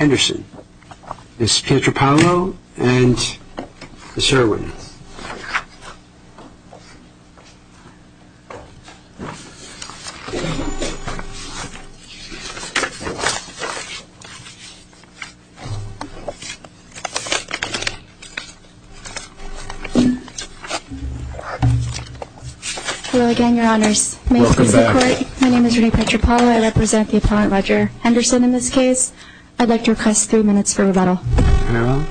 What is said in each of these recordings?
Ms. Pietropaolo and Ms. Irwin. Hello again, Your Honors. Welcome back. My name is Renee Pietropaolo. I represent the Appellant Ledger. Henderson, in this case, I'd like to request three minutes for rebuttal. No.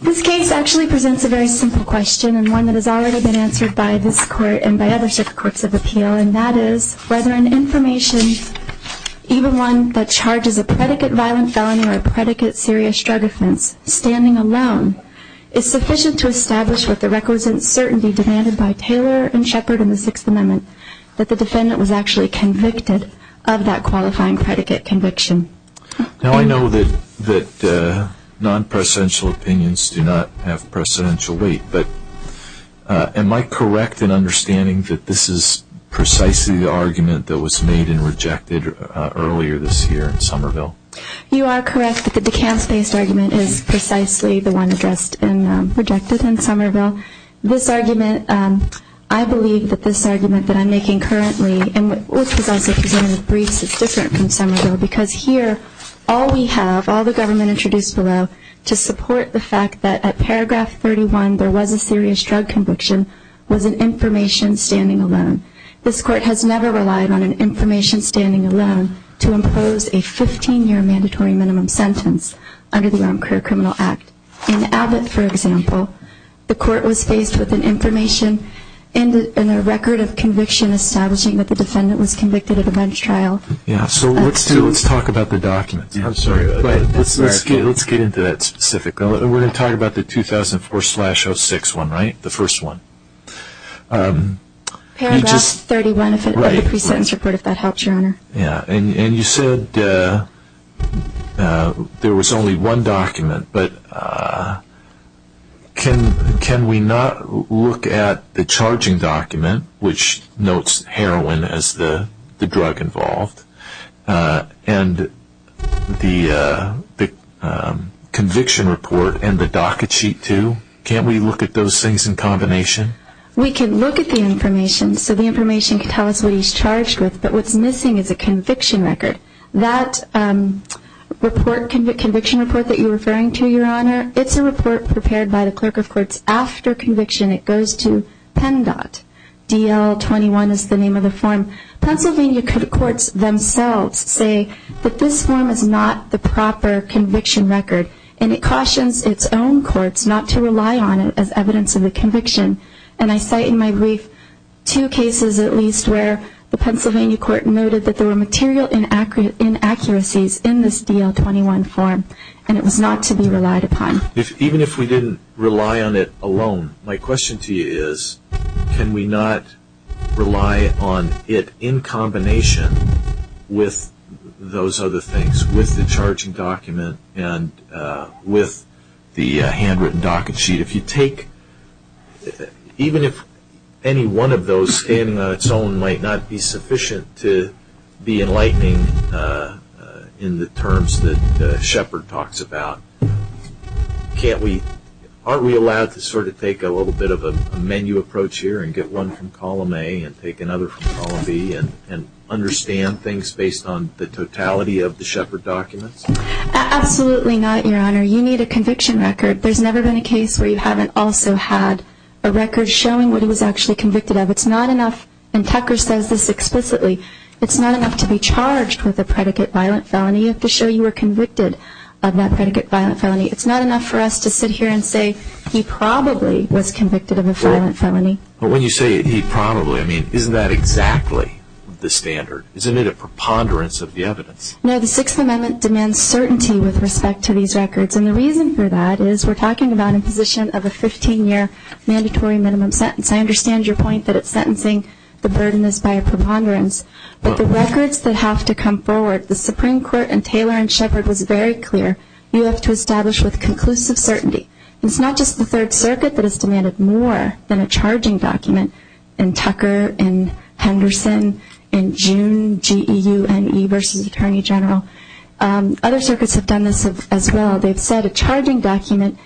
This case actually presents a very simple question and one that has already been answered by this Court and by other circuits of appeal, and that is whether an information, even one that charges a predicate violent felony or a predicate serious drug offense, standing alone is sufficient to establish what the records and certainty demanded by Taylor and Shepard in the Sixth Amendment that the defendant was actually convicted of that qualifying predicate conviction. Now, I know that non-presidential opinions do not have presidential weight, but am I correct in understanding that this is precisely the argument that was made and rejected earlier this year in Somerville? You are correct that the DeKalb-based argument is precisely the one addressed and rejected in Somerville. This argument, I believe that this argument that I'm making currently, and which was also presented in the briefs, is different from Somerville, because here all we have, all the government introduced below, to support the fact that at paragraph 31 there was a serious drug conviction was an information standing alone. This Court has never relied on an information standing alone to impose a 15-year mandatory minimum sentence under the Armed Career Criminal Act. In Abbott, for example, the Court was faced with an information and a record of conviction establishing that the defendant was convicted of a bench trial. Yeah, so let's talk about the documents. I'm sorry, but let's get into that specifically. We're going to talk about the 2004-06 one, right? The first one. Paragraph 31 of the pre-sentence report, if that helps, Your Honor. Yeah, and you said there was only one document, but can we not look at the charging document, which notes heroin as the drug involved, and the conviction report and the docket sheet too? Can't we look at those things in combination? We can look at the information, so the information can tell us what he's charged with, but what's missing is a conviction record. That conviction report that you're referring to, Your Honor, it's a report prepared by the Clerk of Courts after conviction. It goes to PENDOT. DL-21 is the name of the form. Pennsylvania courts themselves say that this form is not the proper conviction record, and it cautions its own courts not to rely on it as evidence of a conviction. And I cite in my brief two cases at least where the Pennsylvania court noted that there were material inaccuracies in this DL-21 form, and it was not to be relied upon. Even if we didn't rely on it alone, my question to you is, can we not rely on it in combination with those other things, with the charging document and with the handwritten docket sheet? If you take, even if any one of those standing on its own might not be sufficient to be enlightening in the terms that Shepard talks about, can't we, aren't we allowed to sort of take a little bit of a menu approach here and get one from column A and take another from column B and understand things based on the totality of the Shepard documents? Absolutely not, Your Honor. You need a conviction record. There's never been a case where you haven't also had a record showing what he was actually convicted of. It's not enough, and Tucker says this explicitly, it's not enough to be charged with a predicate violent felony. You have to show you were convicted of that predicate violent felony. It's not enough for us to sit here and say he probably was convicted of a violent felony. But when you say he probably, I mean, isn't that exactly the standard? Isn't it a preponderance of the evidence? No, the Sixth Amendment demands certainty with respect to these records, and the reason for that is we're talking about a position of a 15-year mandatory minimum sentence. I understand your point that it's sentencing the burdeness by a preponderance, but the records that have to come forward, the Supreme Court and Taylor and Shepard was very clear, you have to establish with conclusive certainty. It's not just the Third Circuit that has demanded more than a charging document. In Tucker, in Henderson, in June, G.E.U.N.E. versus Attorney General. Other circuits have done this as well. They've said a charging document,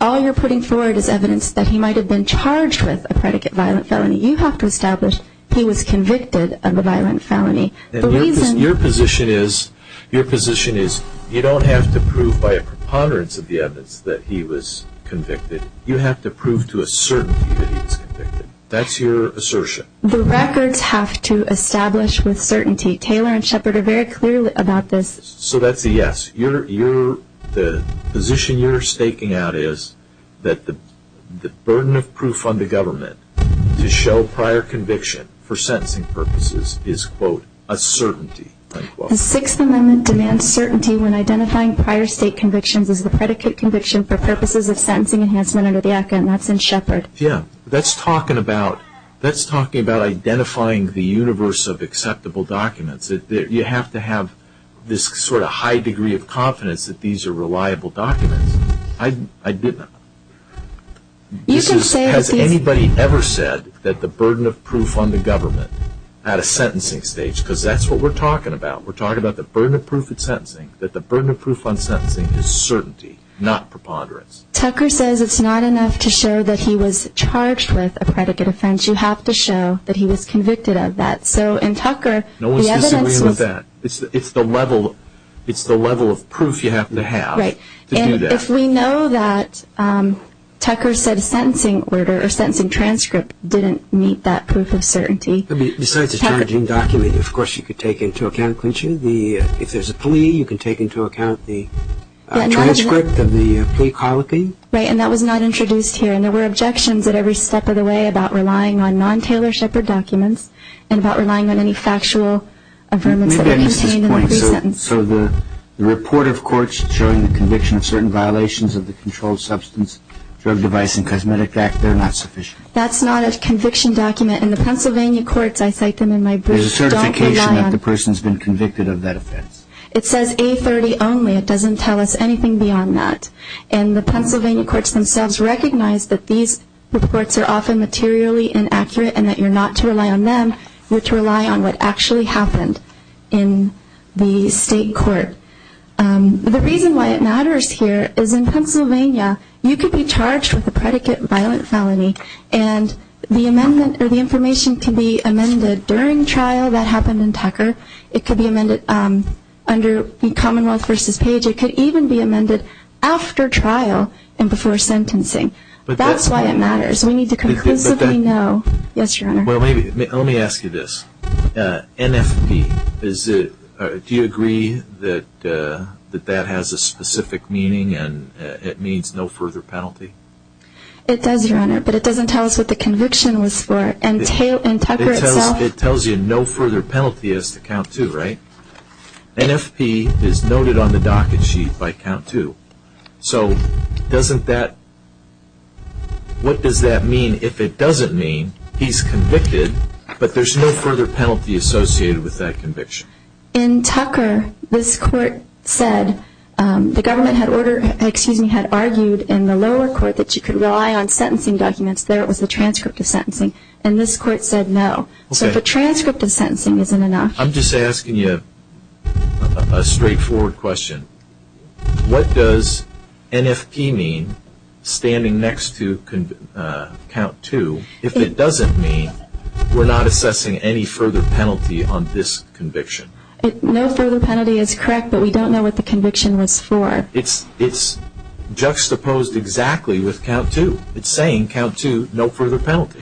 all you're putting forward is evidence that he might have been charged with a predicate violent felony. You have to establish he was convicted of a violent felony. Your position is you don't have to prove by a preponderance of the evidence that he was convicted. You have to prove to a certainty that he was convicted. That's your assertion. The records have to establish with certainty. Taylor and Shepard are very clear about this. So that's a yes. The position you're staking out is that the burden of proof on the government to show prior conviction for sentencing purposes is, quote, a certainty. The Sixth Amendment demands certainty when identifying prior state convictions as the predicate conviction for purposes of sentencing enhancement under the Act, and that's in Shepard. Yeah, that's talking about identifying the universe of acceptable documents. You have to have this sort of high degree of confidence that these are reliable documents. Has anybody ever said that the burden of proof on the government at a sentencing stage, because that's what we're talking about. We're talking about the burden of proof at sentencing, that the burden of proof on sentencing is certainty, not preponderance. Tucker says it's not enough to show that he was charged with a predicate offense. You have to show that he was convicted of that. No one's disagreeing with that. It's the level of proof you have to have to do that. Right. And if we know that Tucker said a sentencing order or a sentencing transcript didn't meet that proof of certainty. Besides a charging document, of course, you could take into account clinching. If there's a plea, you can take into account the transcript of the plea colloquy. Right, and that was not introduced here, and there were objections at every step of the way about relying on non-Taylor Shepard documents and about relying on any factual affirmance that were maintained in the pre-sentence. So the report of courts showing the conviction of certain violations of the Controlled Substance, Drug, Device, and Cosmetic Act, they're not sufficient? That's not a conviction document. In the Pennsylvania courts, I cite them in my brief. There's a certification that the person's been convicted of that offense. It says A30 only. It doesn't tell us anything beyond that, and the Pennsylvania courts themselves recognize that these reports are often materially inaccurate and that you're not to rely on them. You're to rely on what actually happened in the state court. The reason why it matters here is in Pennsylvania, you could be charged with a predicate violent felony, and the information can be amended during trial. That happened in Tucker. It could be amended under the Commonwealth v. Page. It could even be amended after trial and before sentencing. That's why it matters. We need to conclusively know. Yes, Your Honor. Let me ask you this. NFP, do you agree that that has a specific meaning and it means no further penalty? It does, Your Honor, but it doesn't tell us what the conviction was for. It tells you no further penalty is to count to, right? NFP is noted on the docket sheet by count to. So what does that mean if it doesn't mean he's convicted but there's no further penalty associated with that conviction? In Tucker, this court said the government had argued in the lower court that you could rely on sentencing documents. There was a transcript of sentencing, and this court said no. So the transcript of sentencing isn't enough. I'm just asking you a straightforward question. What does NFP mean standing next to count to if it doesn't mean we're not assessing any further penalty on this conviction? No further penalty is correct, but we don't know what the conviction was for. It's juxtaposed exactly with count to. It's saying count to, no further penalty.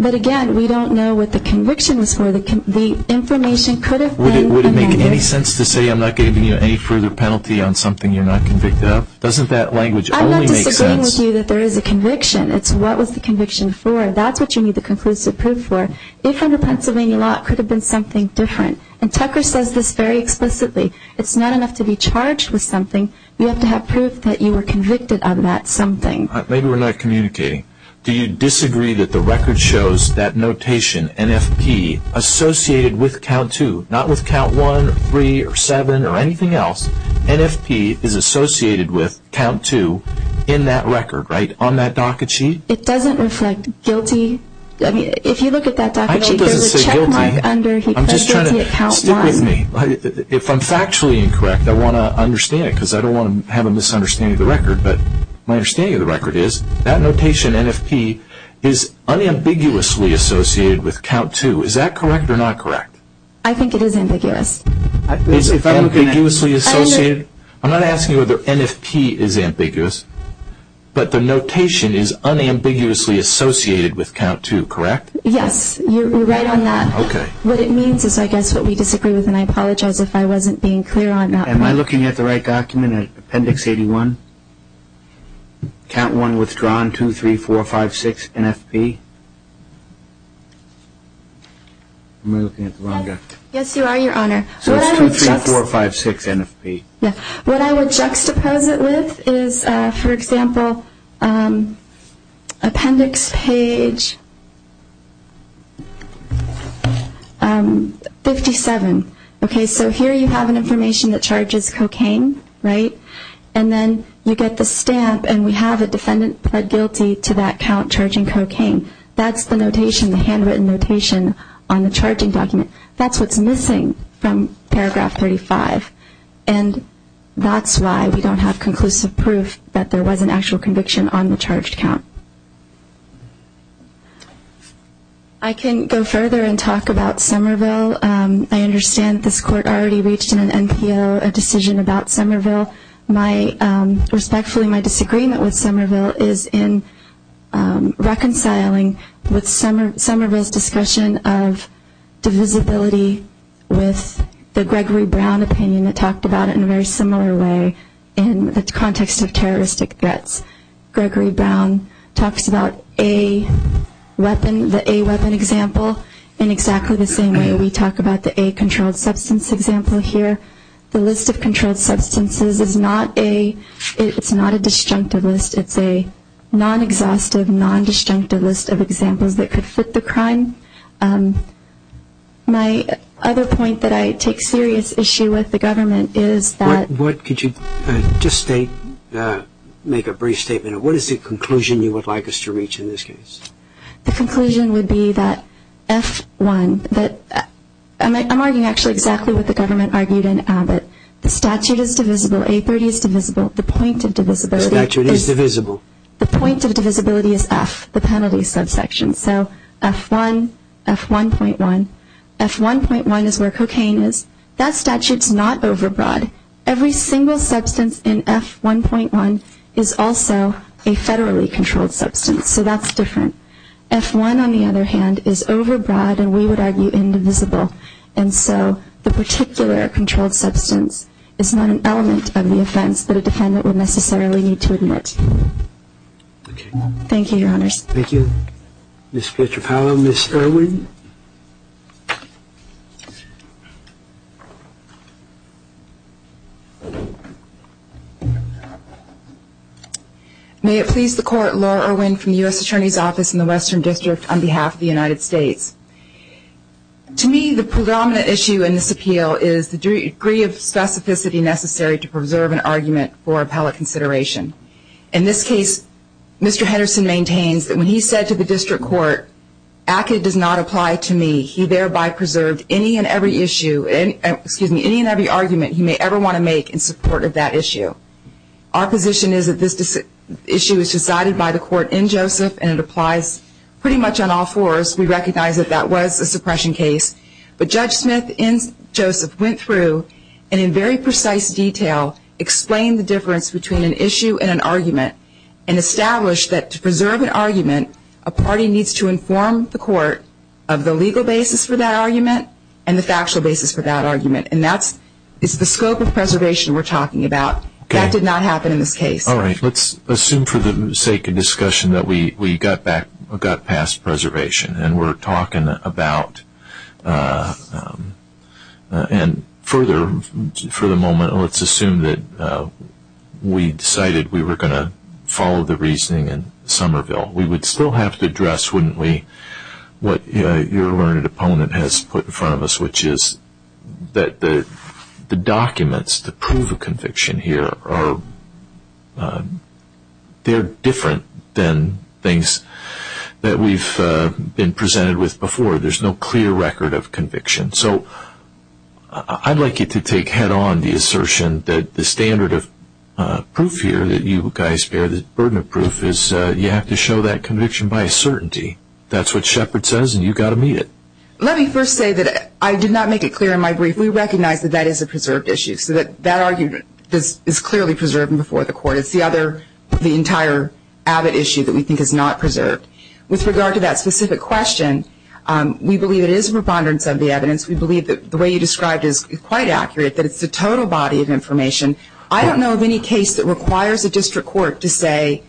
But again, we don't know what the conviction was for. The information could have been amended. Does it make any sense to say I'm not giving you any further penalty on something you're not convicted of? Doesn't that language only make sense? I'm not disagreeing with you that there is a conviction. It's what was the conviction for. That's what you need the conclusive proof for. If under Pennsylvania law, it could have been something different. And Tucker says this very explicitly. It's not enough to be charged with something. You have to have proof that you were convicted of that something. Maybe we're not communicating. Do you disagree that the record shows that notation, NFP, associated with count to? Not with count one or three or seven or anything else. NFP is associated with count to in that record, right, on that docket sheet? It doesn't reflect guilty. If you look at that docket sheet, there's a check mark under guilty at count one. Stick with me. If I'm factually incorrect, I want to understand it because I don't want to have a misunderstanding of the record. But my understanding of the record is that notation, NFP, is unambiguously associated with count to. Is that correct or not correct? I think it is ambiguous. It's unambiguously associated? I'm not asking you whether NFP is ambiguous, but the notation is unambiguously associated with count to, correct? Yes. You're right on that. Okay. What it means is, I guess, what we disagree with, and I apologize if I wasn't being clear on that point. Am I looking at the right document, Appendix 81? Count one withdrawn, 23456 NFP. Am I looking at the wrong document? Yes, you are, Your Honor. So it's 23456 NFP. Yes. What I would juxtapose it with is, for example, Appendix Page 57. Okay, so here you have an information that charges cocaine, right? And then you get the stamp, and we have a defendant pled guilty to that count charging cocaine. That's the notation, the handwritten notation on the charging document. That's what's missing from Paragraph 35, and that's why we don't have conclusive proof that there was an actual conviction on the charged count. I can go further and talk about Somerville. I understand this Court already reached in an NPO a decision about Somerville. Respectfully, my disagreement with Somerville is in reconciling Somerville's discussion of divisibility with the Gregory Brown opinion that talked about it in a very similar way in the context of terroristic threats. Gregory Brown talks about the A weapon example in exactly the same way we talk about the A controlled substance example here. The list of controlled substances is not a disjunctive list. It's a non-exhaustive, non-disjunctive list of examples that could fit the crime. My other point that I take serious issue with the government is that Just make a brief statement. What is the conclusion you would like us to reach in this case? The conclusion would be that F1, I'm arguing actually exactly what the government argued in Abbott. The statute is divisible. A30 is divisible. The point of divisibility is F, the penalty subsection. So F1, F1.1. F1.1 is where cocaine is. That statute's not overbroad. Every single substance in F1.1 is also a federally controlled substance. So that's different. F1, on the other hand, is overbroad and we would argue indivisible. And so the particular controlled substance is not an element of the offense that a defendant would necessarily need to admit. Okay. Thank you, Your Honors. Thank you. Ms. Fletcher-Powell, Ms. Irwin. May it please the Court, Laura Irwin from the U.S. Attorney's Office in the Western District on behalf of the United States. To me, the predominant issue in this appeal is the degree of specificity necessary to preserve an argument for appellate consideration. In this case, Mr. Henderson maintains that when he said to the district court, ACCA does not apply to me, he thereby preserved any and every issue, excuse me, any and every argument he may ever want to make in support of that issue. Our position is that this issue is decided by the court in Joseph and it applies pretty much on all fours. We recognize that that was a suppression case. But Judge Smith in Joseph went through and in very precise detail explained the difference between an issue and an argument and established that to preserve an argument, a party needs to inform the court of the legal basis for that argument and the factual basis for that argument. And that's the scope of preservation we're talking about. That did not happen in this case. All right. Let's assume for the sake of discussion that we got past preservation and we're talking about and further, for the moment, let's assume that we decided we were going to follow the reasoning in Somerville. We would still have to address, wouldn't we, what your learned opponent has put in front of us, which is that the documents, the proof of conviction here, they're different than things that we've been presented with before. There's no clear record of conviction. So I'd like you to take head on the assertion that the standard of proof here that you guys bear, the burden of proof, is you have to show that conviction by certainty. That's what Shepard says and you've got to meet it. Let me first say that I did not make it clear in my brief. We recognize that that is a preserved issue. So that argument is clearly preserved before the court. It's the other, the entire Abbott issue that we think is not preserved. With regard to that specific question, we believe it is a preponderance of the evidence. We believe that the way you described it is quite accurate, that it's the total body of information. I don't know of any case that requires a district court to say,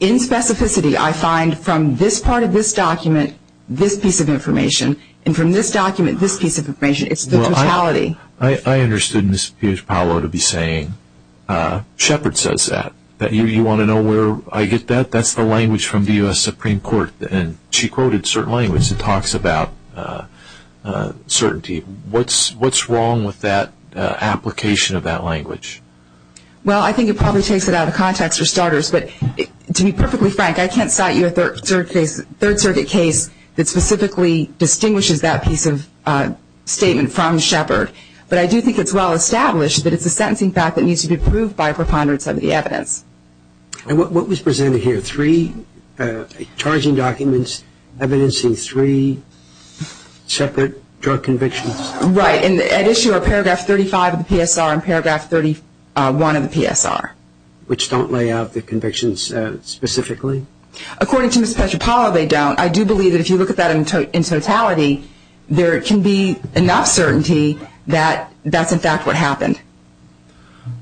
in specificity, I find from this part of this document, this piece of information. And from this document, this piece of information. It's the totality. I understood Ms. Paolo to be saying, Shepard says that. You want to know where I get that? That's the language from the U.S. Supreme Court. And she quoted certain languages and talks about certainty. What's wrong with that application of that language? Well, I think it probably takes it out of context, for starters. But to be perfectly frank, I can't cite you a Third Circuit case that specifically distinguishes that piece of statement from Shepard. But I do think it's well established that it's a sentencing fact that needs to be proved by a preponderance of the evidence. And what was presented here? Three charging documents evidencing three separate drug convictions? Right. And at issue are paragraph 35 of the PSR and paragraph 31 of the PSR. Which don't lay out the convictions specifically? According to Ms. Paolo, they don't. I do believe that if you look at that in totality, there can be enough certainty that that's, in fact, what happened.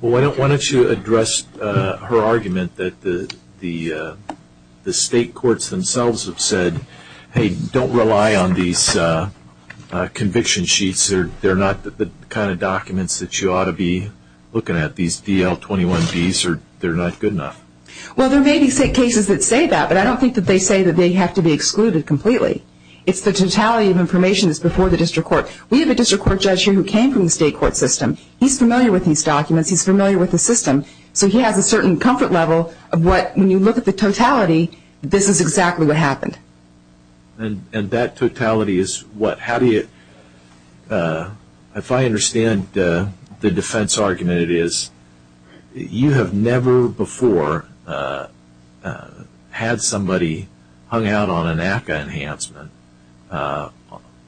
Why don't you address her argument that the state courts themselves have said, hey, don't rely on these conviction sheets. They're not the kind of documents that you ought to be looking at. These DL21Bs, they're not good enough. Well, there may be cases that say that. But I don't think that they say that they have to be excluded completely. It's the totality of information that's before the district court. We have a district court judge here who came from the state court system. He's familiar with these documents. He's familiar with the system. So he has a certain comfort level of what, when you look at the totality, this is exactly what happened. And that totality is what? If I understand the defense argument, it is you have never before had somebody hung out on an AFCA enhancement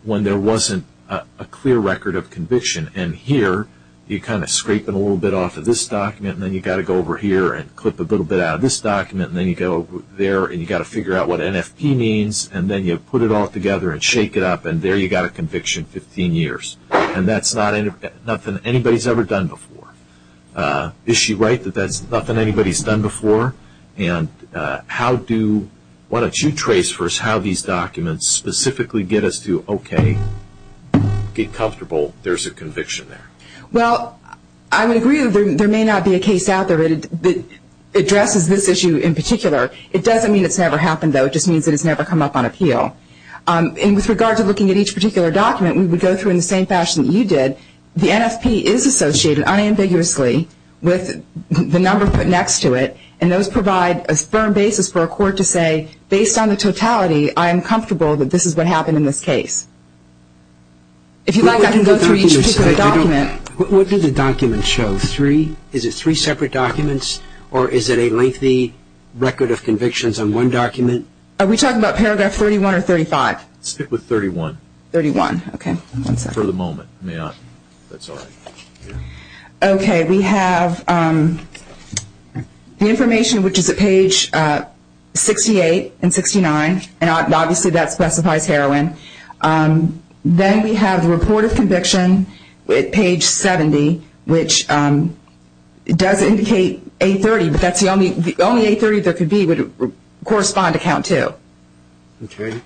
when there wasn't a clear record of conviction. And here, you're kind of scraping a little bit off of this document, and then you've got to go over here and clip a little bit out of this document, and then you go there and you've got to figure out what NFP means, and then you put it all together and shake it up, and there you've got a conviction, 15 years. And that's nothing anybody's ever done before. Is she right that that's nothing anybody's done before? And how do you trace first how these documents specifically get us to, okay, get comfortable there's a conviction there? Well, I would agree that there may not be a case out there that addresses this issue in particular. It doesn't mean it's never happened, though. It just means that it's never come up on appeal. And with regard to looking at each particular document, we would go through in the same fashion that you did. The NFP is associated unambiguously with the number put next to it, and those provide a firm basis for a court to say, based on the totality, I am comfortable that this is what happened in this case. If you'd like, I can go through each particular document. What do the documents show, three? Is it three separate documents, or is it a lengthy record of convictions on one document? Are we talking about paragraph 31 or 35? Stick with 31. 31, okay. For the moment. May I? That's all right. Okay. We have the information, which is at page 68 and 69, and obviously that specifies heroin. Then we have the report of conviction at page 70, which does indicate A30, but the only A30 there could be would correspond to count two. Okay.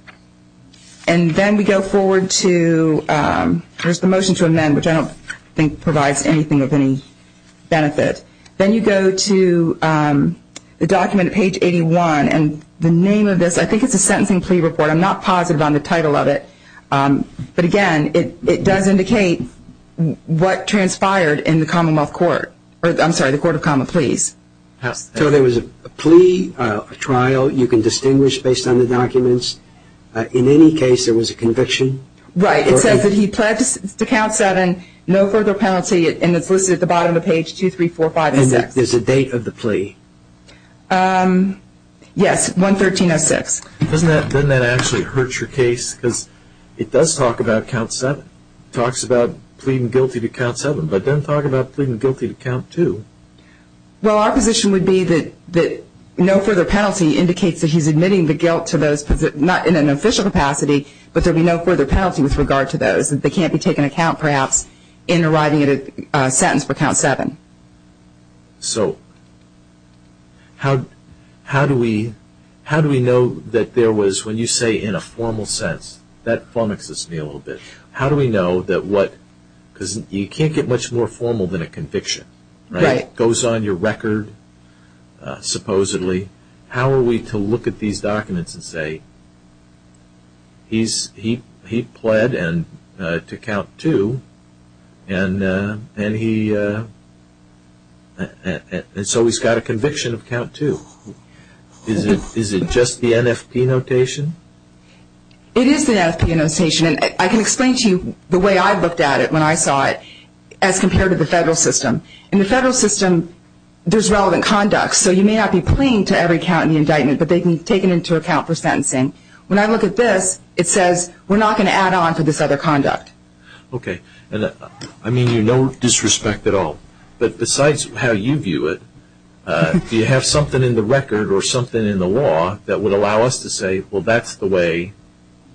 And then we go forward to the motion to amend, which I don't think provides anything of any benefit. Then you go to the document at page 81, and the name of this, I think it's a sentencing plea report. I'm not positive on the title of it. But, again, it does indicate what transpired in the Commonwealth Court. I'm sorry, the Court of Common Pleas. So there was a plea, a trial, you can distinguish based on the documents. In any case, there was a conviction. Right. It says that he pledged to count seven, no further penalty, and it's listed at the bottom of page 23456. And there's a date of the plea. Yes, 11306. Doesn't that actually hurt your case? Because it does talk about count seven. It talks about pleading guilty to count seven, but it doesn't talk about pleading guilty to count two. Well, our position would be that no further penalty indicates that he's admitting the guilt to those, not in an official capacity, but there would be no further penalty with regard to those. They can't be taken into account, perhaps, in arriving at a sentence for count seven. So how do we know that there was, when you say in a formal sense, that flummoxes me a little bit. How do we know that what, because you can't get much more formal than a conviction. Right. It goes on your record, supposedly. How are we to look at these documents and say he pled to count two, and so he's got a conviction of count two? Is it just the NFP notation? It is the NFP notation. I can explain to you the way I looked at it when I saw it as compared to the federal system. In the federal system, there's relevant conduct. So you may not be pleading to every count in the indictment, but they can take it into account for sentencing. When I look at this, it says we're not going to add on to this other conduct. Okay. I mean, you're no disrespect at all, but besides how you view it, do you have something in the record or something in the law that would allow us to say, well, that's the way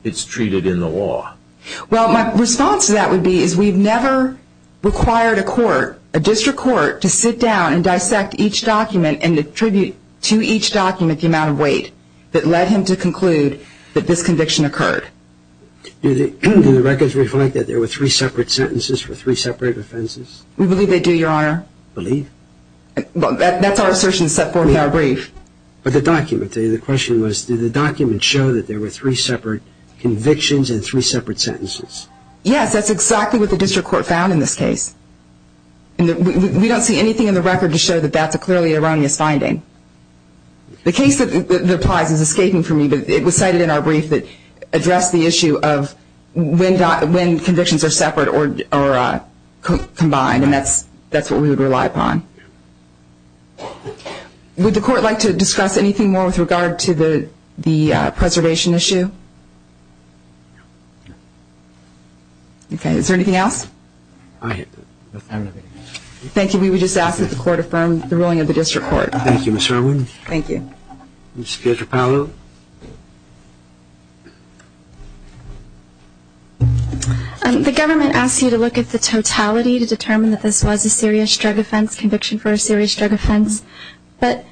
it's treated in the law? Well, my response to that would be is we've never required a court, a district court, to sit down and dissect each document and attribute to each document the amount of weight that led him to conclude that this conviction occurred. Do the records reflect that there were three separate sentences for three separate offenses? We believe they do, Your Honor. Believe? That's our assertion set forth in our brief. But the document, the question was, did the document show that there were three separate convictions and three separate sentences? Yes, that's exactly what the district court found in this case. We don't see anything in the record to show that that's a clearly erroneous finding. The case that applies is escaping from me, but it was cited in our brief that addressed the issue of when convictions are separate or combined, and that's what we would rely upon. Would the court like to discuss anything more with regard to the preservation issue? No. Okay. Is there anything else? I have nothing else. Thank you. We would just ask that the court affirm the ruling of the district court. Thank you, Ms. Irwin. Thank you. Ms. Pietropaolo? The government asks you to look at the totality to determine that this was a serious drug offense, conviction for a serious drug offense, but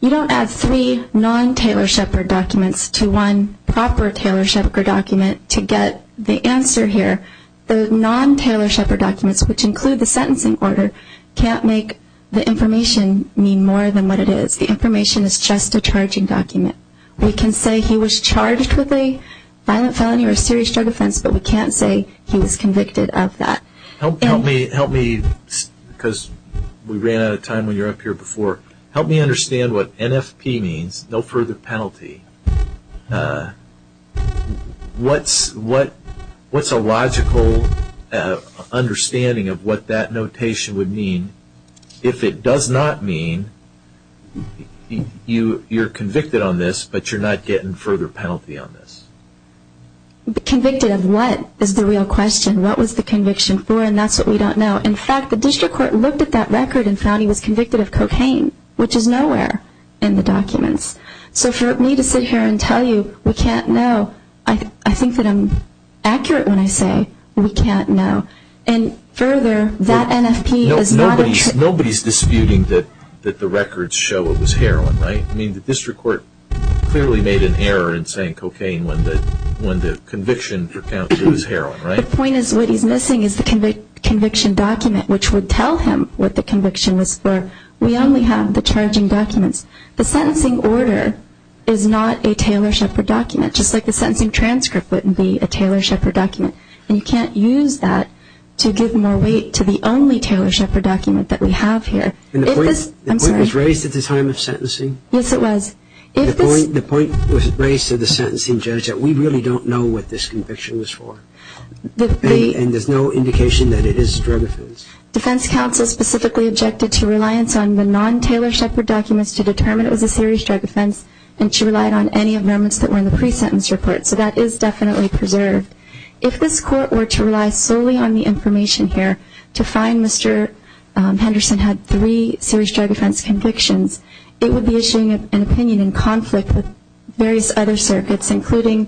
you don't add three non-Taylor-Shepard documents to one proper Taylor-Shepard document to get the answer here. The non-Taylor-Shepard documents, which include the sentencing order, can't make the information mean more than what it is. The information is just a charging document. We can say he was charged with a violent felony or a serious drug offense, but we can't say he was convicted of that. Help me, because we ran out of time when you were up here before, help me understand what NFP means, no further penalty. What's a logical understanding of what that notation would mean if it does not mean you're convicted on this but you're not getting further penalty on this? Convicted of what is the real question? What was the conviction for? And that's what we don't know. In fact, the district court looked at that record and found he was convicted of cocaine, which is nowhere in the documents. So for me to sit here and tell you we can't know, I think that I'm accurate when I say we can't know. And further, that NFP is not a... Nobody's disputing that the records show it was heroin, right? I mean, the district court clearly made an error in saying cocaine when the conviction for count was heroin, right? The point is what he's missing is the conviction document, which would tell him what the conviction was for. We only have the charging documents. The sentencing order is not a Taylor-Shepard document, just like the sentencing transcript wouldn't be a Taylor-Shepard document. And you can't use that to give more weight to the only Taylor-Shepard document that we have here. The point was raised at the time of sentencing? Yes, it was. The point was raised to the sentencing judge that we really don't know what this conviction was for, and there's no indication that it is a drug offense. Defense counsel specifically objected to reliance on the non-Taylor-Shepard documents to determine it was a serious drug offense, and she relied on any amendments that were in the pre-sentence report. So that is definitely preserved. If this court were to rely solely on the information here to find Mr. Henderson had three serious drug offense convictions, it would be issuing an opinion in conflict with various other circuits, including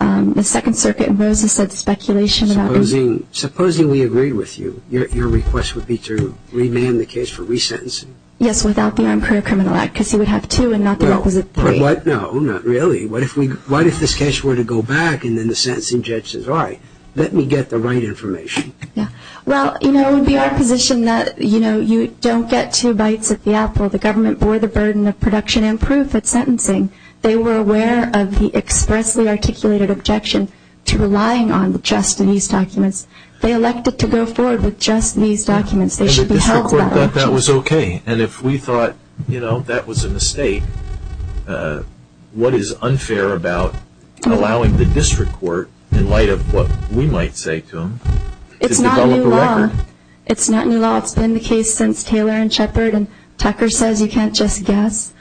the Second Circuit. And Rosa said speculation about his... Supposing we agreed with you, your request would be to remand the case for resentencing? Yes, without the Armed Career Criminal Act, because he would have two and not the opposite three. No, not really. What if this case were to go back and then the sentencing judge says, all right, let me get the right information? Well, it would be our position that you don't get two bites at the apple. The government bore the burden of production and proof at sentencing. They were aware of the expressly articulated objection to relying on just these documents. They elected to go forward with just these documents. And the district court thought that was okay. And if we thought, you know, that was a mistake, what is unfair about allowing the district court, in light of what we might say to them, to develop a record? It's not new law. It's been the case since Taylor and Shepard. And Tucker says you can't just guess.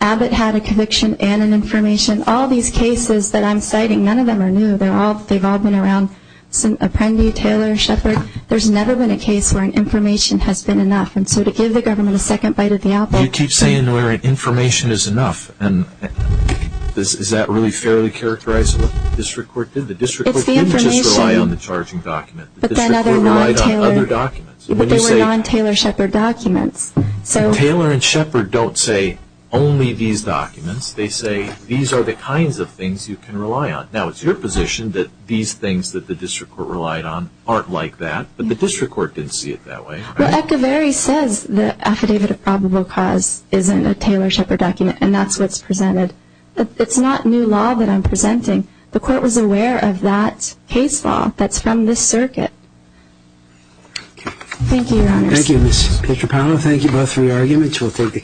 Abbott had a conviction and an information. All these cases that I'm citing, none of them are new. They've all been around Apprendi, Taylor, Shepard. There's never been a case where an information has been enough. And so to give the government a second bite at the apple... You keep saying where information is enough. And is that really fairly characterizable? It's the information. The district court didn't just rely on the charging document. The district court relied on other documents. But they were non-Taylor-Shepard documents. Taylor and Shepard don't say only these documents. They say these are the kinds of things you can rely on. Now, it's your position that these things that the district court relied on aren't like that. But the district court didn't see it that way. Well, Ekaveri says the Affidavit of Probable Cause isn't a Taylor-Shepard document, and that's what's presented. It's not new law that I'm presenting. The court was aware of that case law that's from this circuit. Thank you, Your Honors. Thank you, Ms. Petropano. Thank you both for your arguments. We'll take the case.